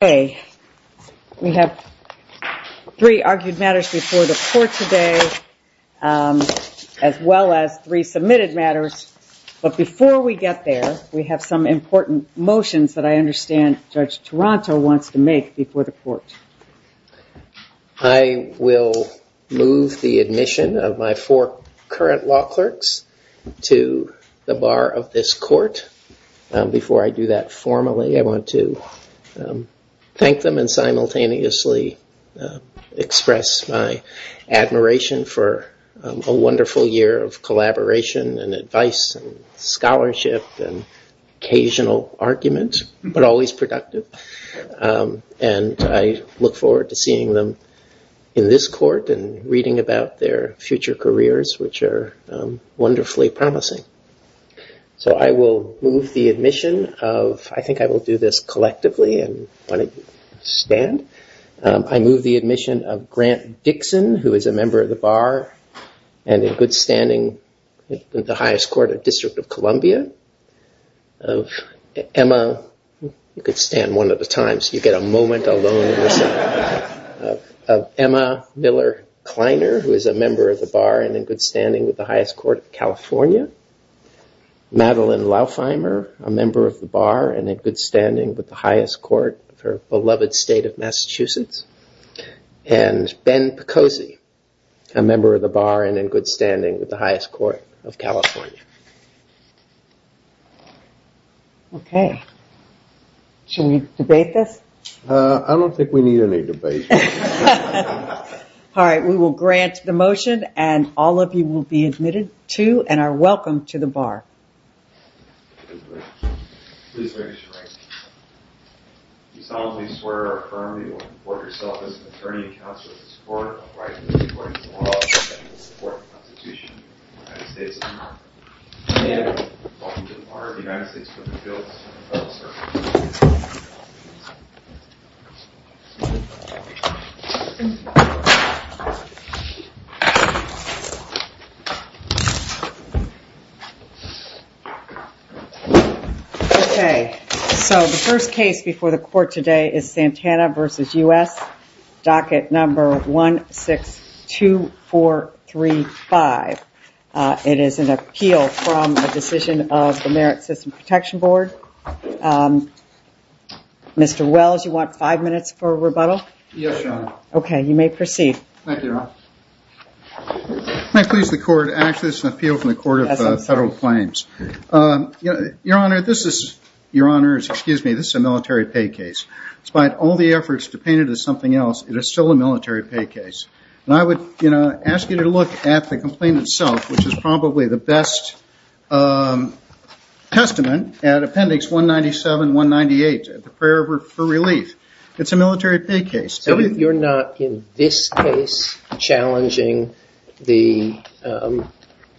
court today. We have three argued matters before the court today, as well as three submitted matters. But before we get there, we have some important motions that I understand Judge Toronto wants to make before the court. I will move the admission of my four current law clerks to the bar of this court. Before I do that formally, I want to thank them and simultaneously express my admiration for a wonderful year of collaboration and advice and scholarship and occasional argument, but always productive. And I look forward to seeing them in this court and reading about their future careers, which are wonderfully promising. So I will move the admission of, I think I will do this collectively and want to stand. I move the admission of Grant Dixon, who is a member of the bar, and in good standing with the highest court of District of Columbia. Emma, you could stand one at a time so you get a moment alone. Emma Miller-Kleiner, who is a member of the bar and in good standing with the highest court of California. Madeline Laufeimer, a member of the bar and in good standing with the highest court of her beloved state of Massachusetts. And Ben Picosi, a member of the bar and in good standing with the highest court of California. Okay. Should we debate this? I don't think we need any debate. We will grant the motion and all of you will be admitted to and are welcome to the bar. Please raise your right hand. Do you solemnly swear or affirm that you will report yourself as an attorney and counsel to this court on the basis of the court's law and the support of the Constitution of the United States of America? I do. Okay. So the first case before the court today is Santana v. U.S., docket number 162435. It is an appeal from a decision of the Merit System Protection Board. Mr. Wells, you want five minutes for rebuttal? Yes, Your Honor. Okay, you may proceed. Thank you, Your Honor. May I please the court? Actually, this is an appeal from the Court of Federal Claims. Your Honor, this is a military pay case. Despite all the efforts to paint it as something else, it is still a military pay case. And I would ask you to look at the complaint itself, which is probably the best testament at Appendix 197, 198, the prayer for relief. It's a military pay case. So you're not, in this case, challenging the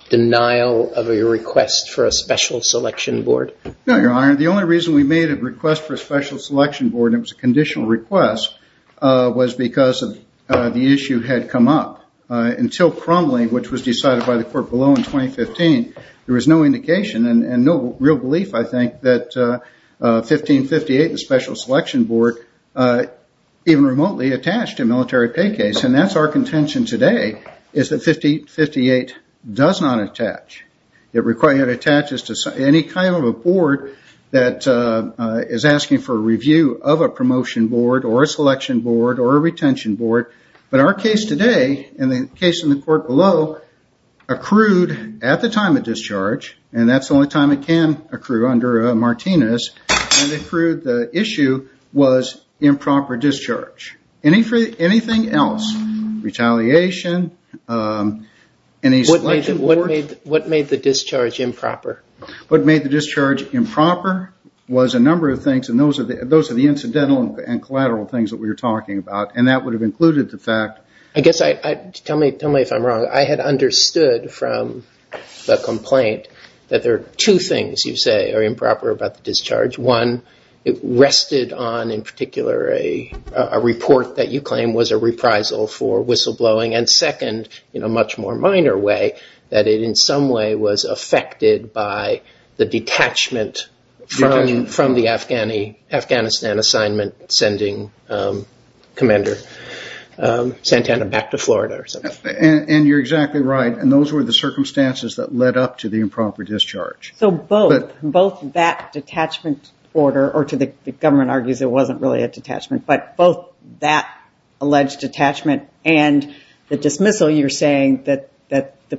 denial of a request for a special selection board? No, Your Honor. The only reason we made a request for a special selection board, and it was a conditional request, was because the issue had come up. Until Crumley, which was decided by the court below in 2015, there was no indication and no real belief, I think, that 1558, the special selection board, even remotely attached to a military pay case. And that's our contention today, is that 1558 does not attach. It attaches to any kind of a board that is asking for a review of a promotion board or a selection board or a retention board. But our case today, and the case in the court below, accrued at the discharge, and that's the only time it can accrue under a Martinez, and it accrued the issue was improper discharge. Anything else? Retaliation? Any selection board? What made the discharge improper? What made the discharge improper was a number of things, and those are the incidental and collateral things that we were talking about, and that would have included the fact... Tell me if I'm wrong. I had understood from the complaint that there are two things you say are improper about the discharge. One, it rested on, in particular, a report that you claim was a reprisal for whistleblowing, and second, in a much more minor way, that it in some way was affected by the detachment from the Afghanistan assignment sending Commander Santana back to Florida. And you're exactly right, and those were the circumstances that led up to the improper discharge. So both that detachment order, or the government argues it wasn't really a detachment, but both that alleged detachment and the dismissal, you're saying that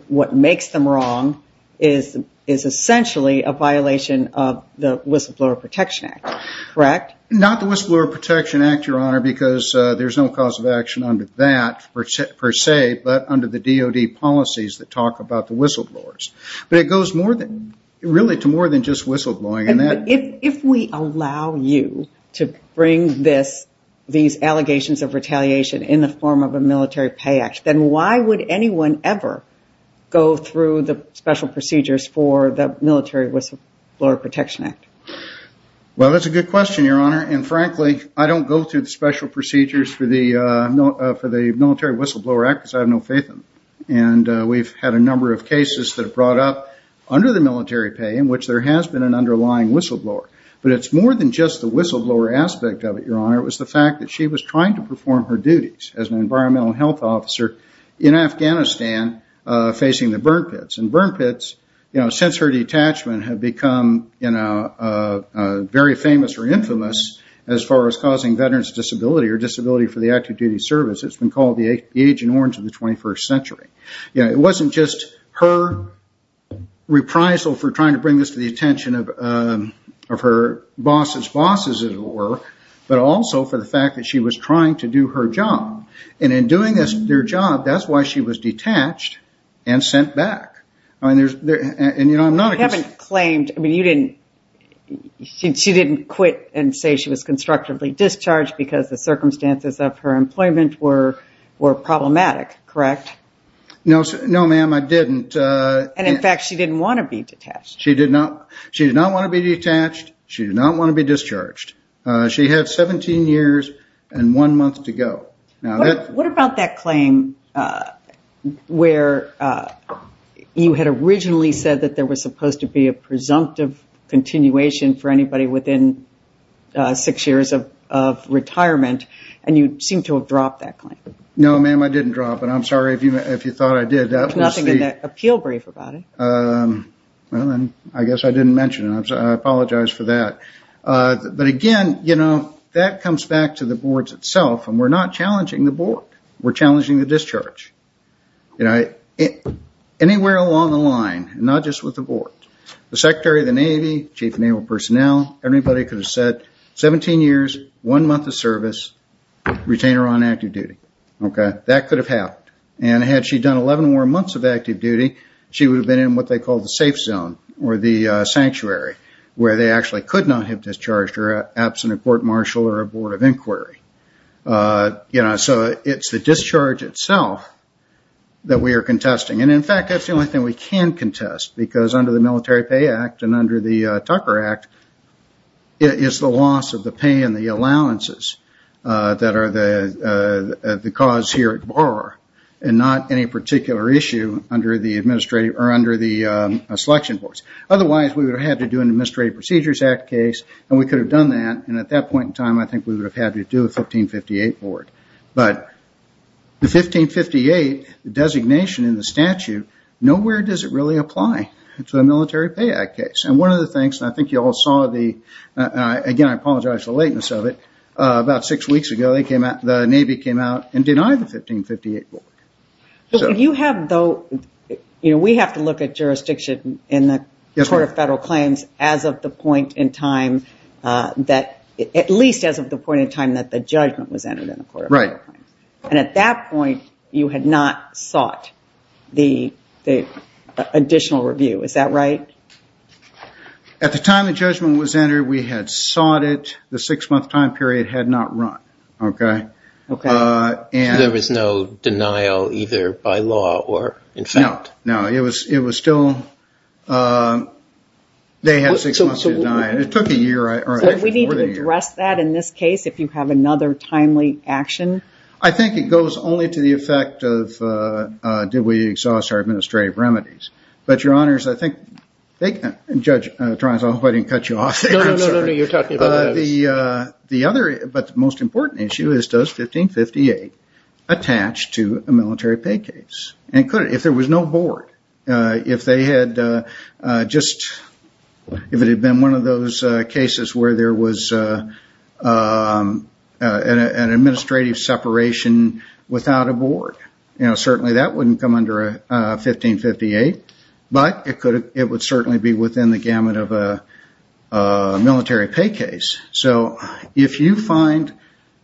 what makes them wrong is essentially a violation of the Whistleblower Protection Act, correct? Not the Whistleblower Protection Act, Your Honor, because there's no cause of action under that per se, but under the DOD policies that talk about the whistleblowers. But it goes really to more than just whistleblowing. If we allow you to bring these allegations of retaliation in the form of a military pay act, then why would anyone ever go through the special procedures for the Military Whistleblower Protection Act? Well, that's a good question, Your Honor, and frankly, I don't go through the special procedures for the Military Whistleblower Act because I have no faith in them. And we've had a number of cases that have brought up under the military pay in which there has been an underlying whistleblower. But it's more than just the whistleblower aspect of it, Your Honor, it was the fact that she was trying to perform her duties as an environmental health officer in Afghanistan facing the burn pits. And burn pits, since her detachment, have become very famous or infamous as far as causing veterans' disability or disability for the active duty service. It's been called the Agent Orange of the 21st century. It wasn't just her reprisal for trying to bring this to the attention of her boss's bosses, as it were, but also for the fact that she was trying to do her job. And in doing their job, that's why she was detached and sent back. I haven't claimed, I mean, she didn't quit and say she was constructively discharged because the circumstances of her employment were problematic, correct? No, ma'am, I didn't. And in fact, she didn't want to be detached. She did not want to be detached. She did not want to be discharged. She had 17 years and one month to go. What about that claim where you had originally said that there was supposed to be a presumptive continuation for anybody within six years of retirement, and you seem to have dropped that claim? No, ma'am, I didn't drop it. I'm sorry if you thought I did. There's nothing in that appeal brief about it. I guess I didn't mention it. I apologize for that. But again, that comes back to the boards itself, and we're not challenging the board. We're challenging the discharge. Anywhere along the line, not just with the board, the Secretary of the Navy, Chief of Naval Personnel, everybody could have said 17 years, one month of service, retain her on active duty. That could have happened. And had she done 11 more months of active duty, she would have been in what they call the safe zone or the sanctuary, where they actually could not have discharged her absent a court marshal or a board of inquiry. So it's the discharge itself that we are contesting. And in fact, that's the only thing we can contest, because under the Military Pay Act and under the Tucker Act, it's the loss of the pay and the allowances that are the cause here at Otherwise, we would have had to do an Administrative Procedures Act case, and we could have done that, and at that point in time, I think we would have had to do a 1558 board. But the 1558 designation in the statute, nowhere does it really apply to a Military Pay Act case. And one of the things, and I think you all saw the, again, I apologize for the lateness of it, about six weeks ago, the Navy came out and denied the 1558 board. You have, though, you know, we have to look at jurisdiction in the Court of Federal Claims as of the point in time that, at least as of the point in time that the judgment was entered in the Court of Federal Claims. And at that point, you had not sought the additional review. Is that right? At the time the judgment was entered, we had sought it. The six-month time period had not run. Okay. Okay. There was no denial either by law or in fact? No, no. It was still, they had six months to deny it. It took a year. So we need to address that in this case if you have another timely action? I think it goes only to the effect of did we exhaust our administrative remedies. But, Your Honors, I think Judge Toranzo, I hope I didn't cut you off there. No, no, no, no, you're talking about us. But the most important issue is does 1558 attach to a military pay case? If there was no board, if they had just, if it had been one of those cases where there was an administrative separation without a board, you know, certainly that wouldn't come under 1558. But it would certainly be within the gamut of a military pay case. So if you find,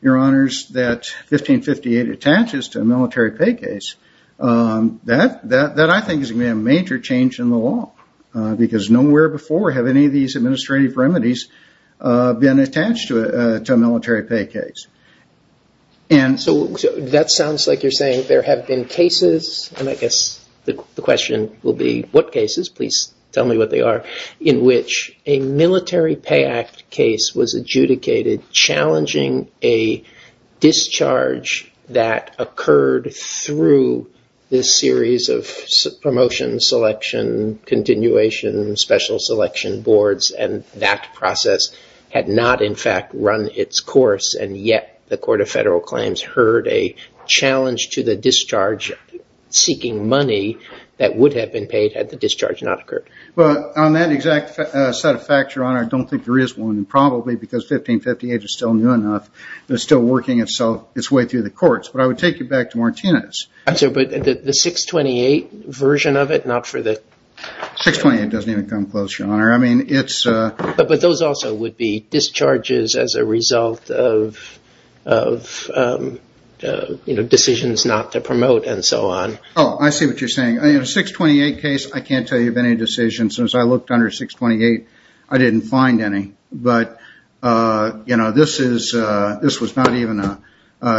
Your Honors, that 1558 attaches to a military pay case, that I think is going to be a major change in the law because nowhere before have any of these administrative remedies been attached to a military pay case. And so that sounds like you're saying there have been cases, and I guess the question will be what cases, please tell me what they are, in which a military pay act case was adjudicated challenging a discharge that occurred through this series of promotion, selection, continuation, special selection boards, and that process had not in fact run its course, and yet the Court of Federal Claims heard a challenge to the discharge seeking money that would have been paid had the discharge not occurred. Well, on that exact set of facts, Your Honor, I don't think there is one. Probably because 1558 is still new enough, it's still working its way through the courts. But I would take you back to Martinez. But the 628 version of it, not for the... 628 doesn't even come close, Your Honor. But those also would be discharges as a result of decisions not to promote and so on. Oh, I see what you're saying. A 628 case, I can't tell you of any decisions. As I looked under 628, I didn't find any. But this was not even,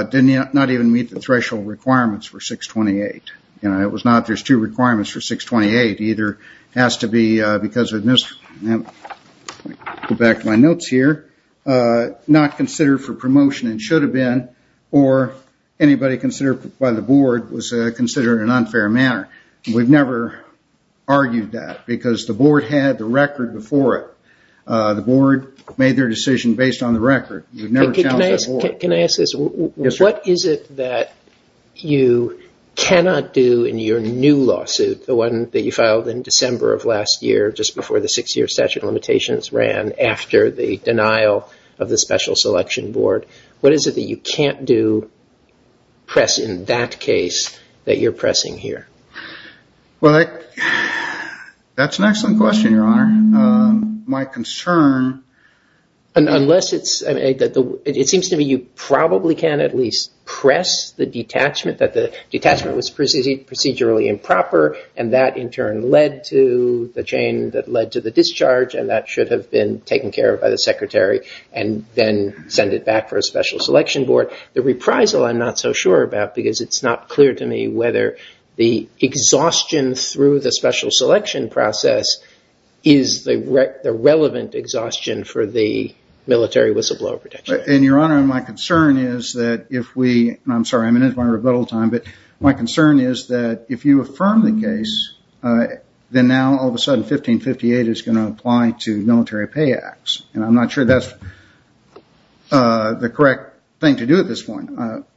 did not even meet the threshold requirements for 628. It was not, there's two requirements for 628. Either it has to be because of... Let me go back to my notes here. Not considered for promotion and should have been, or anybody considered by the board was considered in an unfair manner. We've never argued that because the board had the record before it. The board made their decision based on the record. We've never challenged that before. Can I ask this? What is it that you cannot do in your new lawsuit, the one that you filed in December of last year, just before the six-year statute of limitations ran after the denial of the Special Selection Board? What is it that you can't do, press in that case, that you're pressing here? Well, that's an excellent question, Your Honor. My concern... It seems to me you probably can at least press the detachment, that the detachment was procedurally improper and that in turn led to the chain that led to the discharge and that should have been taken care of by the secretary and then send it back for a Special Selection Board. The reprisal I'm not so sure about because it's not clear to me whether the exhaustion through the Special Selection process is the relevant exhaustion for the military whistleblower protection. And, Your Honor, my concern is that if we... I'm sorry, I'm in my rebuttal time, but my concern is that if you affirm the case, then now all of a sudden 1558 is going to apply to military pay acts, and I'm not sure that's the correct thing to do at this point.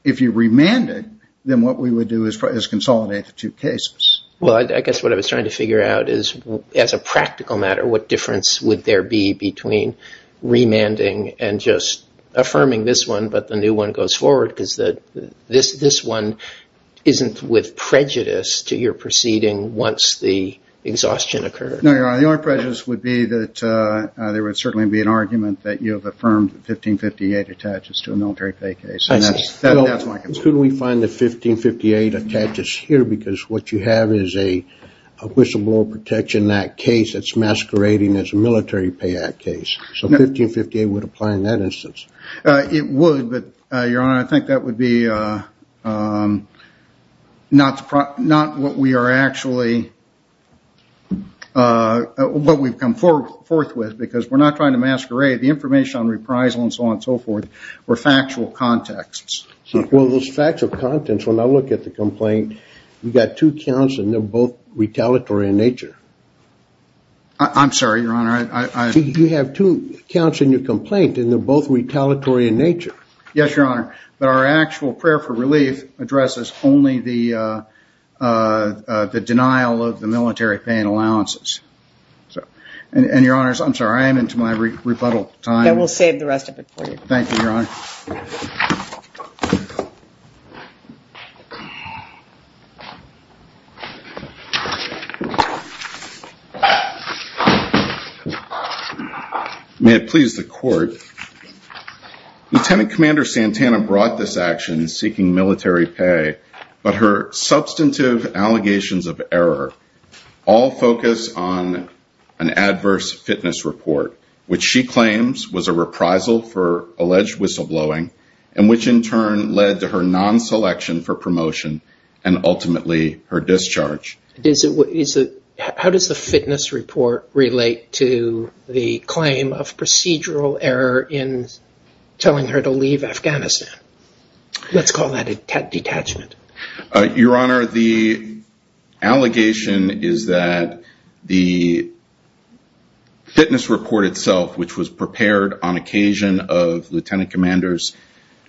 If you remand it, then what we would do is consolidate the two cases. Well, I guess what I was trying to figure out is as a practical matter, what difference would there be between remanding and just affirming this one, but the new one goes forward because this one isn't with prejudice to your proceeding once the exhaustion occurred. No, Your Honor, the only prejudice would be that there would certainly be an argument that you have affirmed 1558 attaches to a military pay case, and that's my concern. Couldn't we find the 1558 attaches here because what you have is a Whistleblower Protection Act case that's masquerading as a military pay act case, so 1558 would apply in that instance. It would, but, Your Honor, I think that would be not what we are actually... what we've come forth with because we're not trying to masquerade. The information on reprisal and so on and so forth were factual contexts. Well, those factual contexts, when I look at the complaint, you've got two counts, and they're both retaliatory in nature. I'm sorry, Your Honor, I... You have two counts in your complaint, and they're both retaliatory in nature. Yes, Your Honor, but our actual prayer for relief addresses only the denial of the military pay and allowances. And, Your Honors, I'm sorry, I am into my rebuttal time. I will save the rest of it for you. Thank you, Your Honor. May it please the Court. Lieutenant Commander Santana brought this action seeking military pay, but her substantive allegations of error all focus on an adverse fitness report, which she claims was a reprisal for alleged whistleblowing, and which in turn led to her non-selection for promotion and ultimately her discharge. How does the fitness report relate to the claim of procedural error in telling her to leave Afghanistan? Let's call that a detachment. Your Honor, the allegation is that the fitness report itself, which was prepared on occasion of Lieutenant Commander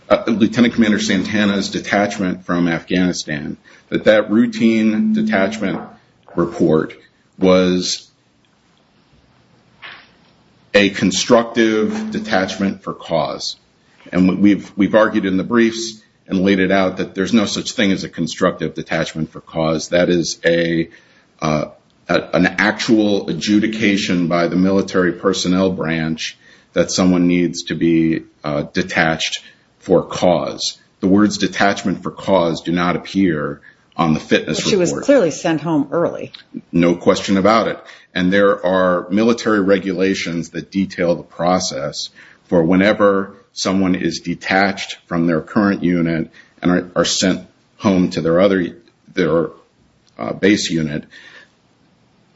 Santana's detachment from Afghanistan, that that routine detachment report was a constructive detachment for cause. And we've argued in the briefs and laid it out that there's no such thing as a constructive detachment for cause. That is an actual adjudication by the military personnel branch that someone needs to be detached for cause. The words detachment for cause do not appear on the fitness report. But she was clearly sent home early. No question about it. And there are military regulations that detail the process for whenever someone is detached from their current unit and are sent home to their base unit.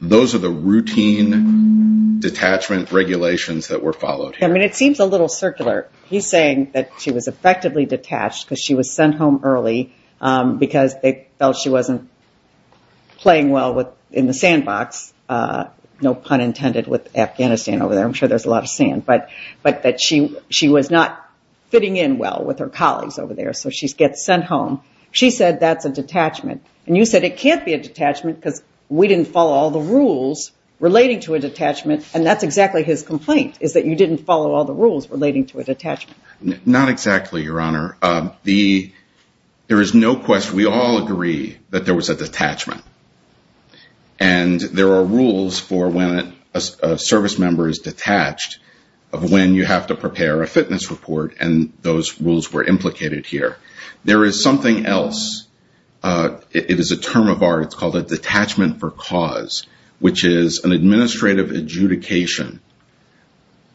Those are the routine detachment regulations that were followed. I mean, it seems a little circular. He's saying that she was effectively detached because she was sent home early because they felt she wasn't playing well in the sandbox. No pun intended with Afghanistan over there. I'm sure there's a lot of sand. But that she was not fitting in well with her colleagues over there, so she gets sent home. She said that's a detachment. And you said it can't be a detachment because we didn't follow all the rules relating to a detachment. And that's exactly his complaint, is that you didn't follow all the rules relating to a detachment. Not exactly, Your Honor. There is no question. We all agree that there was a detachment. And there are rules for when a service member is detached of when you have to prepare a fitness report, and those rules were implicated here. There is something else. It is a term of art. It's called a detachment for cause, which is an administrative adjudication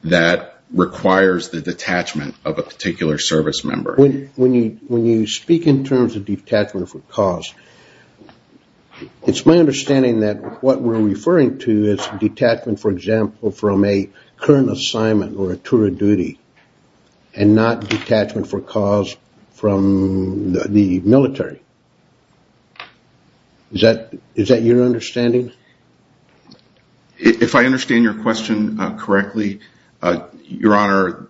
that requires the detachment of a particular service member. When you speak in terms of detachment for cause, it's my understanding that what we're referring to is detachment, for example, from a current assignment or a tour of duty and not detachment for cause from the military. Is that your understanding? If I understand your question correctly, Your Honor,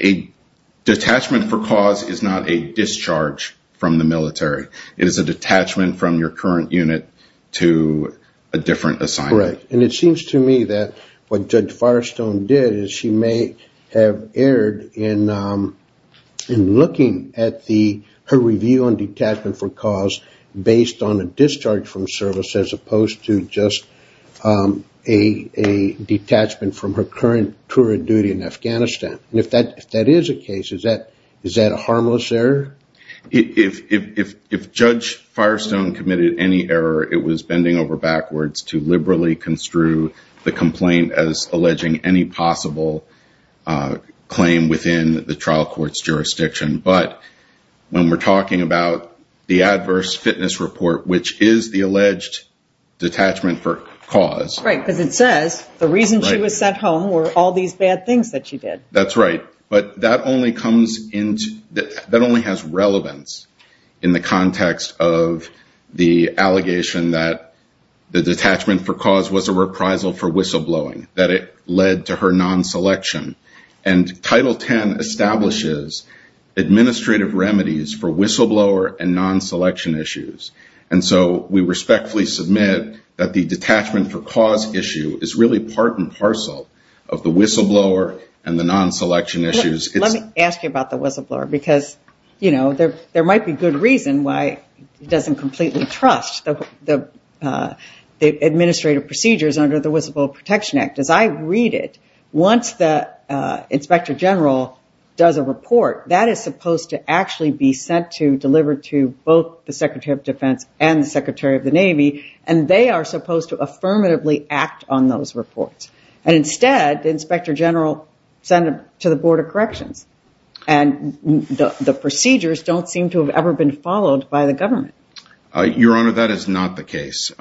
a detachment for cause is not a discharge from the military. It is a detachment from your current unit to a different assignment. Right. And it seems to me that what Judge Firestone did is she may have erred in looking at her review on detachment for cause based on a discharge from service as opposed to just a detachment from her current tour of duty in Afghanistan. And if that is the case, is that a harmless error? If Judge Firestone committed any error, it was bending over backwards to liberally construe the complaint as alleging any possible claim within the trial court's jurisdiction. But when we're talking about the adverse fitness report, which is the alleged detachment for cause. Right, because it says the reason she was sent home were all these bad things that she did. That's right. But that only has relevance in the context of the allegation that the detachment for cause was a reprisal for whistleblowing, that it led to her non-selection. And Title X establishes administrative remedies for whistleblower and non-selection issues. And so we respectfully submit that the detachment for cause issue is really part and parcel of the whistleblower and the non-selection issues. Let me ask you about the whistleblower because, you know, there might be good reason why it doesn't completely trust the administrative procedures under the Whistleblower Protection Act. As I read it, once the inspector general does a report, that is supposed to actually be sent to delivered to both the secretary of defense and the secretary of the Navy. And they are supposed to affirmatively act on those reports. And instead, the inspector general sent to the Board of Corrections. And the procedures don't seem to have ever been followed by the government. Your Honor, that is not the case.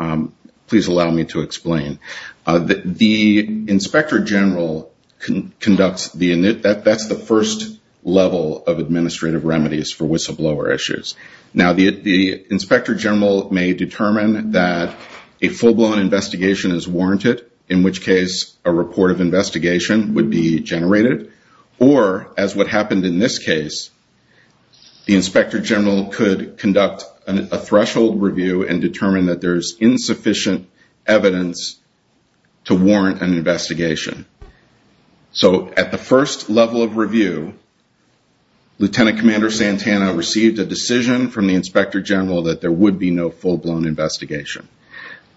Please allow me to explain. The inspector general conducts the init. That's the first level of administrative remedies for whistleblower issues. Now, the inspector general may determine that a full-blown investigation is warranted, in which case a report of investigation would be generated. Or, as what happened in this case, the inspector general could conduct a threshold review and determine that there is insufficient evidence to warrant an investigation. So, at the first level of review, Lieutenant Commander Santana received a decision from the inspector general that there would be no full-blown investigation.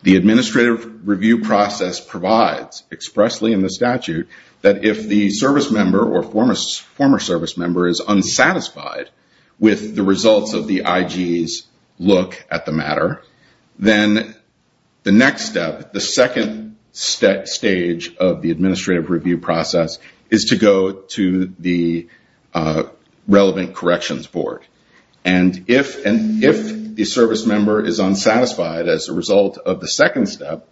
The administrative review process provides, expressly in the statute, that if the service member or former service member is unsatisfied with the results of the IG's look at the matter, then the next step, the second stage of the administrative review process, is to go to the relevant corrections board. And if the service member is unsatisfied as a result of the second step,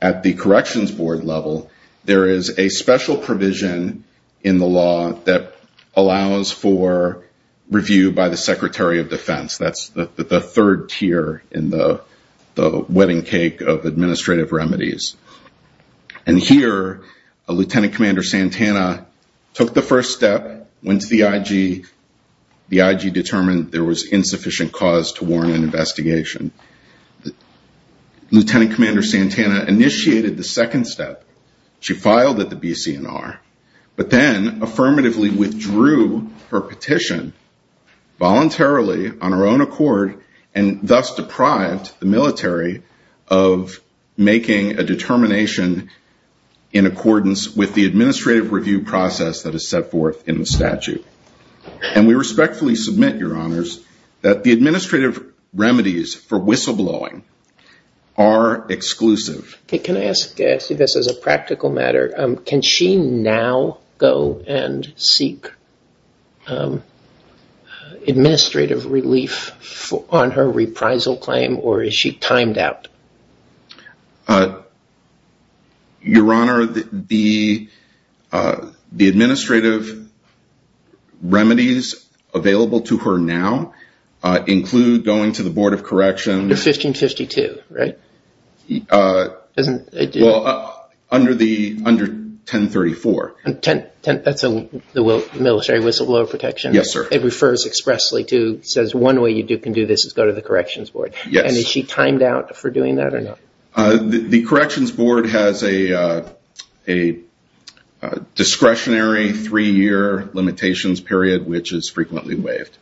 at the corrections board level, there is a special provision in the law that allows for review by the Secretary of Defense. That's the third tier in the wedding cake of administrative remedies. And here, Lieutenant Commander Santana took the first step, went to the IG, the IG determined there was insufficient cause to warrant an investigation. Lieutenant Commander Santana initiated the second step. She filed at the BCNR, but then affirmatively withdrew her petition voluntarily on her own accord and thus deprived the military of making a determination in accordance with the administrative review process that is set forth in the statute. And we respectfully submit, Your Honors, that the administrative remedies for whistleblowing are exclusive. Can I ask, I see this as a practical matter, can she now go and seek administrative relief on her reprisal claim, or is she timed out? Your Honor, the administrative remedies available to her now include going to the board of corrections. The 1552, right? Under 1034. That's the military whistleblower protection. It refers expressly to, says one way you can do this is go to the corrections board. And is she timed out for doing that or not? The corrections board has a discretionary three-year limitations period, which is frequently waived.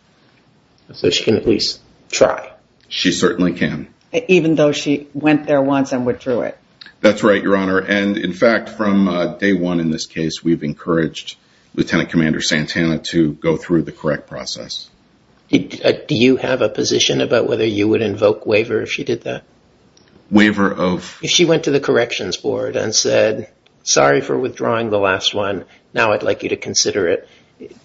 So she can at least try. She certainly can. Even though she went there once and withdrew it. That's right, Your Honor. And in fact, from day one in this case, we've encouraged Lieutenant Commander Santana to go through the correct process. Do you have a position about whether you would invoke waiver if she did that? If she went to the corrections board and said, sorry for withdrawing the last one, now I'd like you to consider it.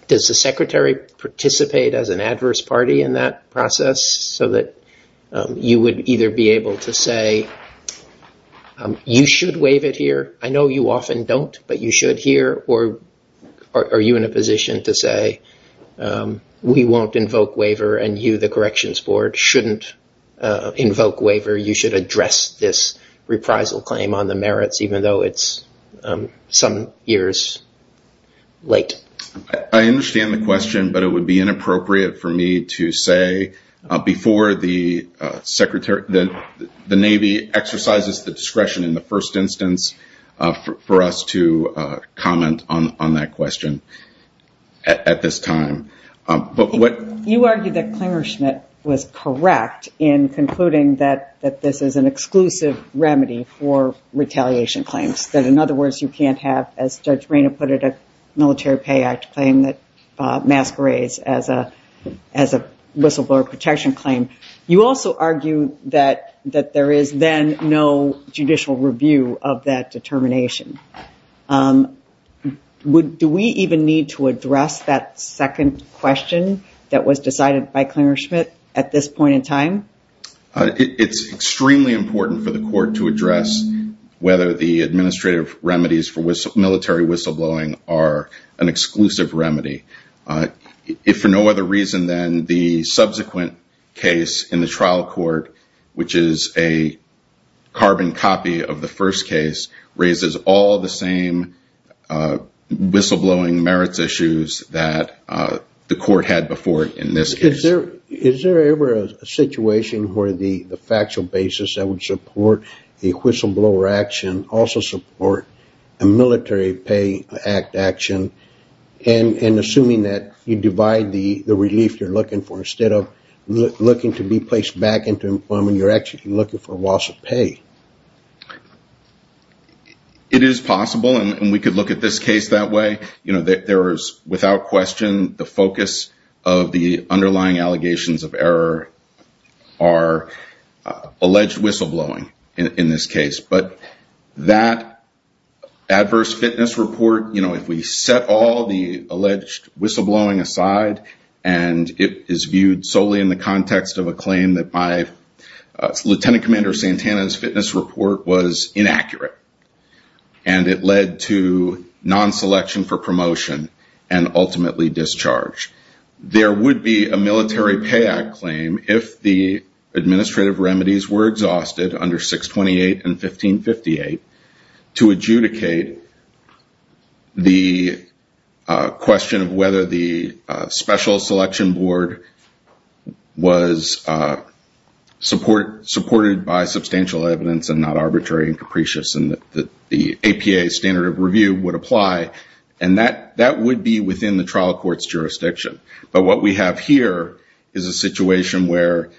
Does the secretary participate as an adverse party in that process? So that you would either be able to say, you should waive it here. I know you often don't, but you should here. Or are you in a position to say, we won't invoke waiver and you, the corrections board, shouldn't invoke waiver. You should address this reprisal claim on the merits, even though it's some years late. I understand the question, but it would be inappropriate for me to say, before the Navy exercises the discretion in the first instance, for us to comment on that question. At this time. You argued that Klingerschmidt was correct in concluding that this is an exclusive remedy for retaliation claims. That, in other words, you can't have, as Judge Reyna put it, a military pay act claim that masquerades as a whistleblower protection claim. You also argue that there is then no judicial review of that determination. Do we even need to address that second question that was decided by Klingerschmidt at this point in time? It's extremely important for the court to address whether the administrative remedies for military whistleblowing are an exclusive remedy. If for no other reason than the subsequent case in the trial court, which is a carbon copy of the first case, raises all the same whistleblowing merits issues that the court had before in this case. Is there ever a situation where the factual basis that would support a whistleblower action also support a military pay act action? Assuming that you divide the relief you're looking for, instead of looking to be placed back into employment, you're actually looking for a loss of pay. It is possible, and we could look at this case that way. Without question, the focus of the underlying allegations of error are alleged whistleblowing in this case. That adverse fitness report, if we set all the alleged whistleblowing aside and it is viewed solely in the context of a claim that my Lieutenant Commander Santana's fitness report was inaccurate, and it led to non-selection for promotion and ultimately discharge. There would be a military pay act claim if the administrative remedies were exhausted under 628 and 1558 to adjudicate the question of whether the special selection board was supported by substantial evidence and not arbitrary and capricious and that the APA standard of review would apply. And that would be within the trial court's jurisdiction. But what we have here is a situation where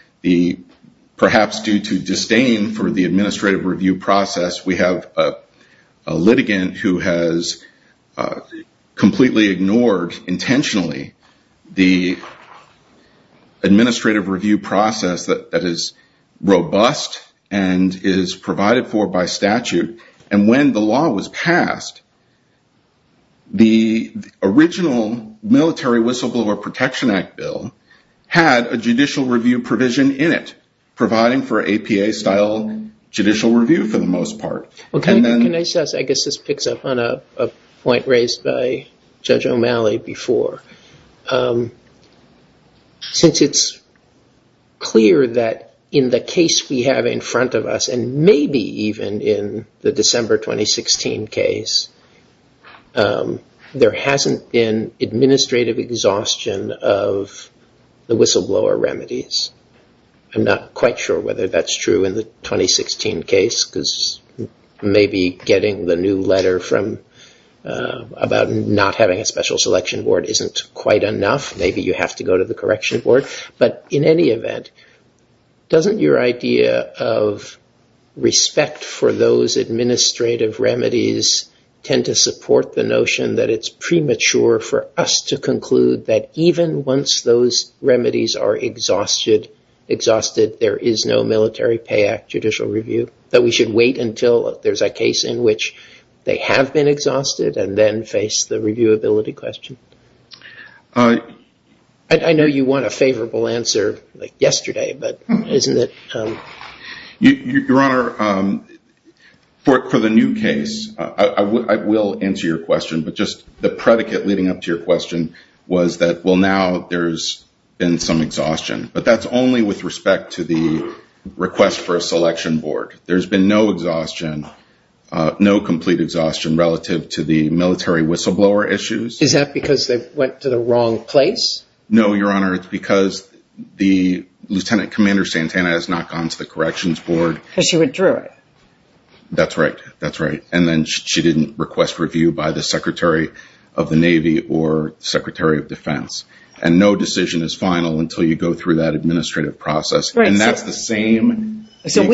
perhaps due to disdain for the administrative review process, we have a litigant who has completely ignored intentionally the administrative review process that is robust and is provided for by statute. And when the law was passed, the original Military Whistleblower Protection Act bill had a judicial review provision in it, providing for APA style judicial review for the most part. Can I just, I guess this picks up on a point raised by Judge O'Malley before. Since it's clear that in the case we have in front of us, and maybe even in the December 2016 case, there hasn't been administrative exhaustion of the whistleblower remedies. I'm not quite sure whether that's true in the 2016 case, because maybe getting the new letter about not having a special selection board isn't quite enough, maybe you have to go to the correction board. But in any event, doesn't your idea of respect for those administrative remedies tend to support the notion that it's premature for us to conclude that even once those remedies are exhausted, there is no Military Pay Act judicial review? That we should wait until there's a case in which they have been exhausted and then face the reviewability question? I know you want a favorable answer like yesterday, but isn't it... Your Honor, for the new case, I will answer your question, but just the predicate leading up to your question was that, well, now there's been some exhaustion, but that's only with respect to the request for a selection board. There's been no exhaustion, no complete exhaustion relative to the military whistleblower issues. Is that because they went to the wrong place? No, Your Honor, it's because the Lieutenant Commander Santana has not gone to the corrections board. Because she withdrew it. That's right, that's right. And then she didn't request review by the Secretary of the Navy or Secretary of Defense. And no decision is final until you go through that administrative process. And that's the same... I understand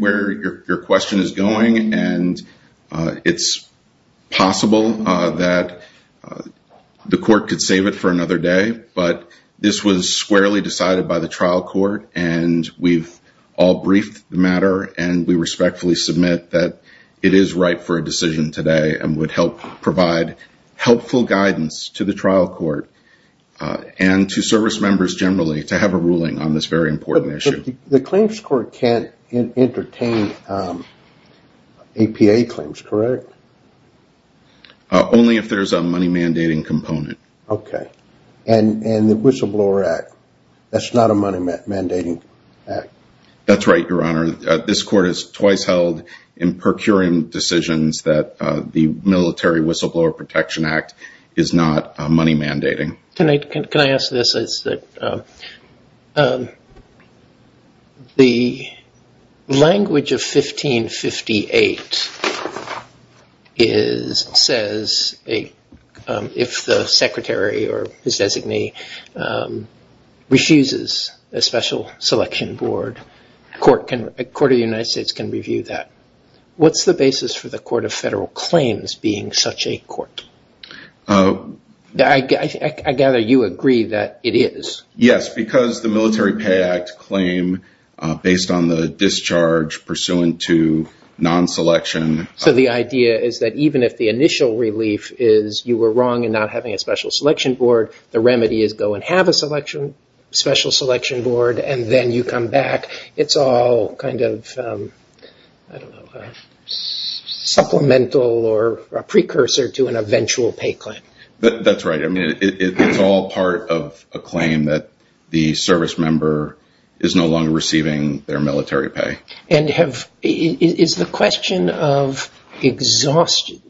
where your question is going, and it's possible that the court could save it for another day, but this was squarely decided by the trial court, and we've all briefed the matter, and we respectfully submit that it is right for a decision today and would help provide helpful guidance to the trial court and to service members generally to have a ruling on this very important issue. But the claims court can't entertain APA claims, correct? Only if there's a money mandating component. Okay. And the Whistleblower Act, that's not a money mandating act. That's right, Your Honor. This court has twice held in procuring decisions that the Military Whistleblower Protection Act is not money mandating. Can I ask this? The language of 1558 says if the secretary or his designee refuses a special selection board, a court of the United States can review that. What's the basis for the Court of Federal Claims being such a court? I gather you agree that it is. Yes, because the Military Pay Act claim based on the discharge pursuant to non-selection... So the idea is that even if the initial relief is you were wrong in not having a special selection board, the remedy is go and have a special selection board and then you come back. It's all kind of supplemental or a precursor to an eventual pay claim. That's right. It's all part of a claim that the service member is no longer receiving their military pay. And is the question of exhaustion...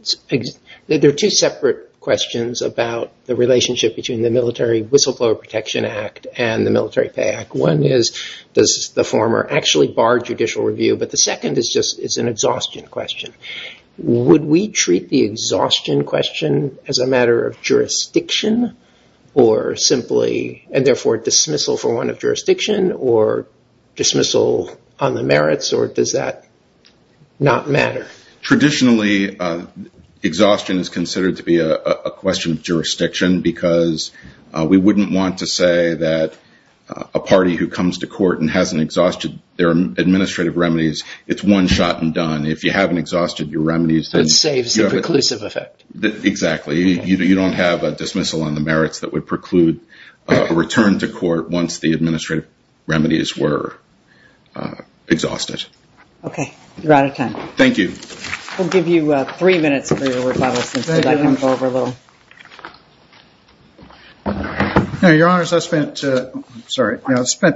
There are two separate questions about the relationship between the Military Whistleblower Protection Act and the Military Pay Act. One is does the former actually bar judicial review, but the second is just an exhaustion question. Would we treat the exhaustion question as a matter of jurisdiction, and therefore dismissal for one of jurisdiction or dismissal on the merits, or does that not matter? Traditionally, exhaustion is considered to be a question of jurisdiction because we wouldn't want to say that a party who comes to court and hasn't exhausted their administrative remedies, it's one shot and done. If you haven't exhausted your remedies... Exactly. You don't have a dismissal on the merits that would preclude a return to court once the administrative remedies were exhausted. Okay. You're out of time. Thank you. I spent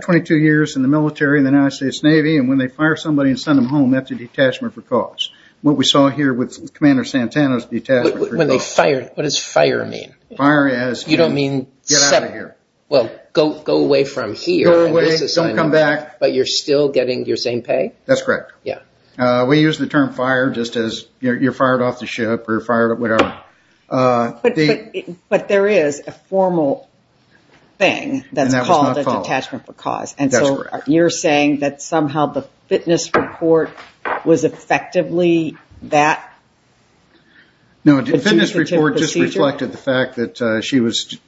22 years in the military in the United States Navy, and when they fire somebody and send them home, that's a detachment for cause. What does fire mean? Go away from here, but you're still getting your same pay? That's correct. But there is a formal thing that's called a detachment for cause, and so you're saying that somehow the fitness report was effectively that? No, the fitness report just reflected the fact that she was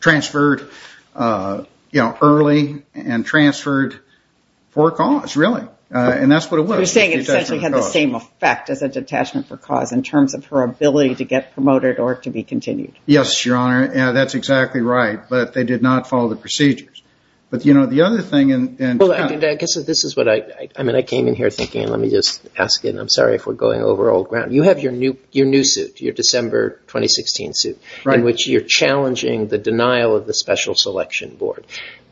transferred early and transferred for a cause, really. And that's what it was. You're saying it essentially had the same effect as a detachment for cause in terms of her ability to get promoted or to be continued. I came in here thinking, and let me just ask again, I'm sorry if we're going over old ground. You have your new suit, your December 2016 suit, in which you're challenging the denial of the Special Selection Board.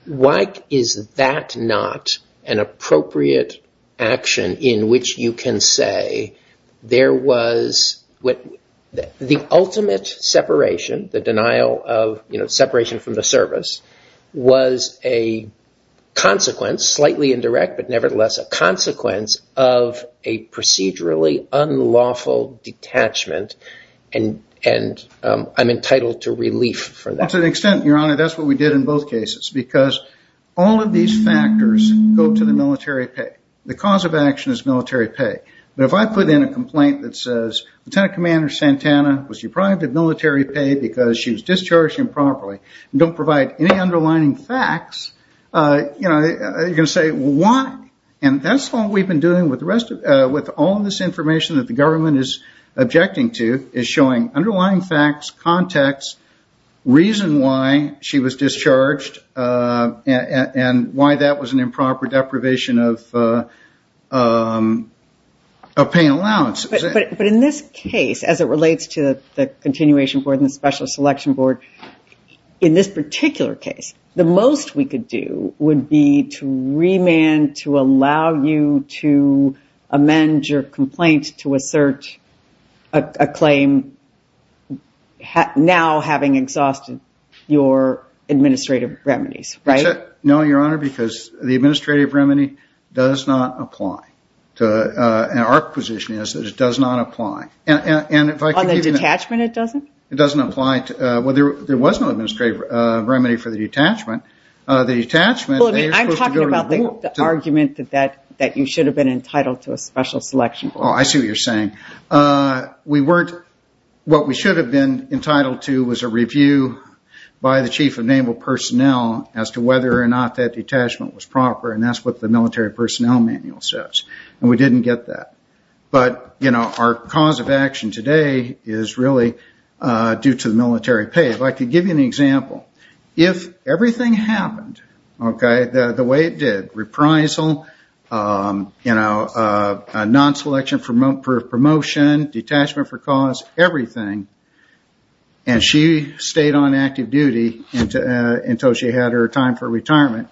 Why is that not an appropriate action in which you can say there was the ultimate separation, the denial of separation from the service, was a consequence, slightly indirect, but nevertheless a consequence of a procedurally unlawful detachment, and I'm entitled to relief for that? To an extent, Your Honor, that's what we did in both cases, because all of these factors go to the military pay. The cause of action is military pay, but if I put in a complaint that says, Lieutenant Commander Santana was deprived of military pay because she was discharged improperly, and don't provide any underlying facts, you're going to say, why? And that's all we've been doing with all of this information that the government is objecting to, is showing underlying facts, context, reason why she was discharged, and why that was an improper deprivation of pay and allowance. But in this case, as it relates to the continuation of the Special Selection Board, in this particular case, the most we could do would be to remand, to allow you to amend your complaint to assert a claim, now having exhausted your administrative remedies, right? No, Your Honor, because the administrative remedy does not apply. Our position is that it does not apply. On the detachment, it doesn't? It doesn't apply. There was no administrative remedy for the detachment. I'm talking about the argument that you should have been entitled to a Special Selection Board. I see what you're saying. What we should have been entitled to was a review by the Chief of Naval Personnel as to whether or not that detachment was proper, and that's what the military personnel manual says. And we didn't get that. But our cause of action today is really due to the military pay. If I could give you an example, if everything happened the way it did, reprisal, non-selection for promotion, detachment for cause, everything, and she stayed on active duty until she had her time for retirement,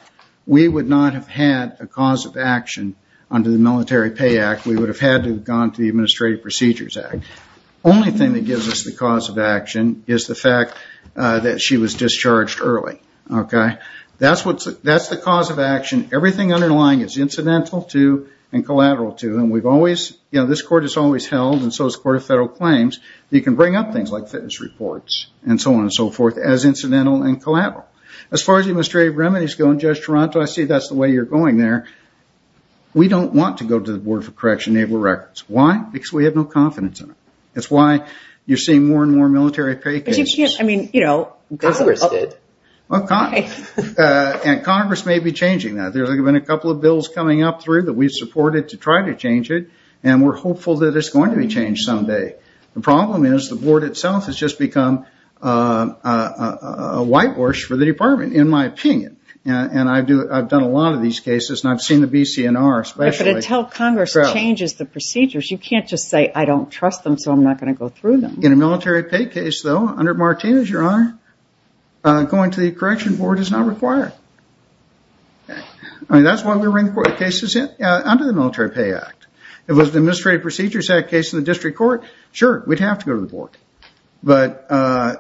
we would not have had a cause of action under the Military Pay Act. We would have had to have gone to the Administrative Procedures Act. The only thing that gives us the cause of action is the fact that she was discharged early. That's the cause of action. Everything underlying is incidental to and collateral to. This Court has always held, and so has the Court of Federal Claims, that you can bring up things like fitness reports and so on and so forth as incidental and collateral. As far as administrative remedies go in Judge Toronto, I see that's the way you're going there. We don't want to go to the Board for Correction Naval Records. Why? Because we have no confidence in it. It's why you're seeing more and more military pay cases. Congress may be changing that. There's been a couple of bills coming up that we've supported to try to change it, and we're hopeful that it's going to be changed someday. The problem is the Board itself has just become a whitewash for the Department, in my opinion. I've done a lot of these cases, and I've seen the BCNR especially. But until Congress changes the procedures, you can't just say, I don't trust them, so I'm not going to go through them. In a military pay case though, under Martinez, Your Honor, going to the Correction Board is not required. That's why we bring cases under the Military Pay Act. If it was the Administrative Procedures Act case in the District Court, sure, we'd have to go to the Board. Like I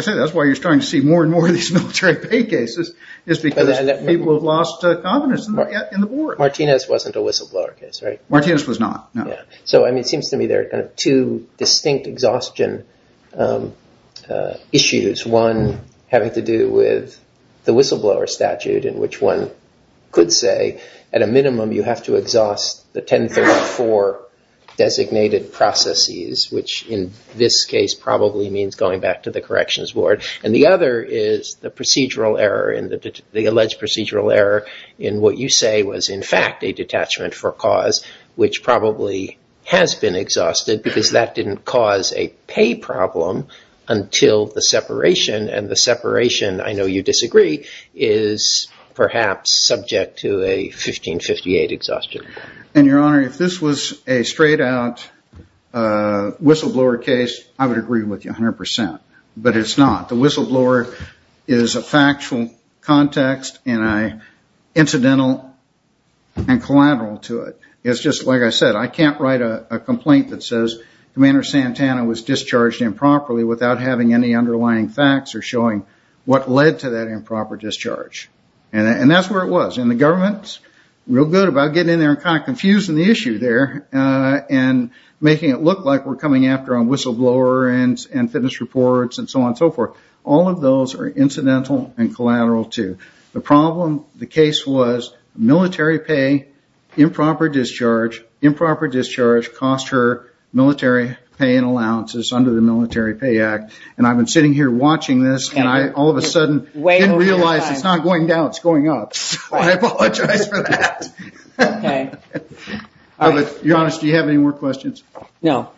said, that's why you're starting to see more and more of these military pay cases, is because people have lost confidence in the Board. Martinez wasn't a whistleblower case, right? Martinez was not. It seems to me there are two distinct exhaustion issues, one having to do with the whistleblower statute, in which one could say at a minimum you have to exhaust the 1034 designated processes, which in this case probably means going back to the Corrections Board. And the other is the procedural error, the alleged procedural error, in what you say was in fact a detachment for cause, which probably has been exhausted, because that didn't cause a pay problem until the separation. And the separation, I know you disagree, is perhaps subject to a 1558 exhaustion. And, Your Honor, if this was a straight-out whistleblower case, I would agree with you 100%. But it's not. The whistleblower is a factual context and an incidental and collateral to it. It's just, like I said, I can't write a complaint that says Commander Santana was discharged improperly without having any underlying facts or showing what led to that improper discharge. And that's where it was. And the government's real good about getting in there and kind of confusing the issue there and making it look like we're coming after on whistleblower and fitness reports and so on and so forth. All of those are incidental and collateral, too. The problem, the case was military pay, improper discharge, improper discharge, cost her military pay and allowances under the Military Pay Act. And I've been sitting here watching this, and I all of a sudden didn't realize it's not going down, it's going up. I apologize for that. Your Honor, do you have any more questions? No.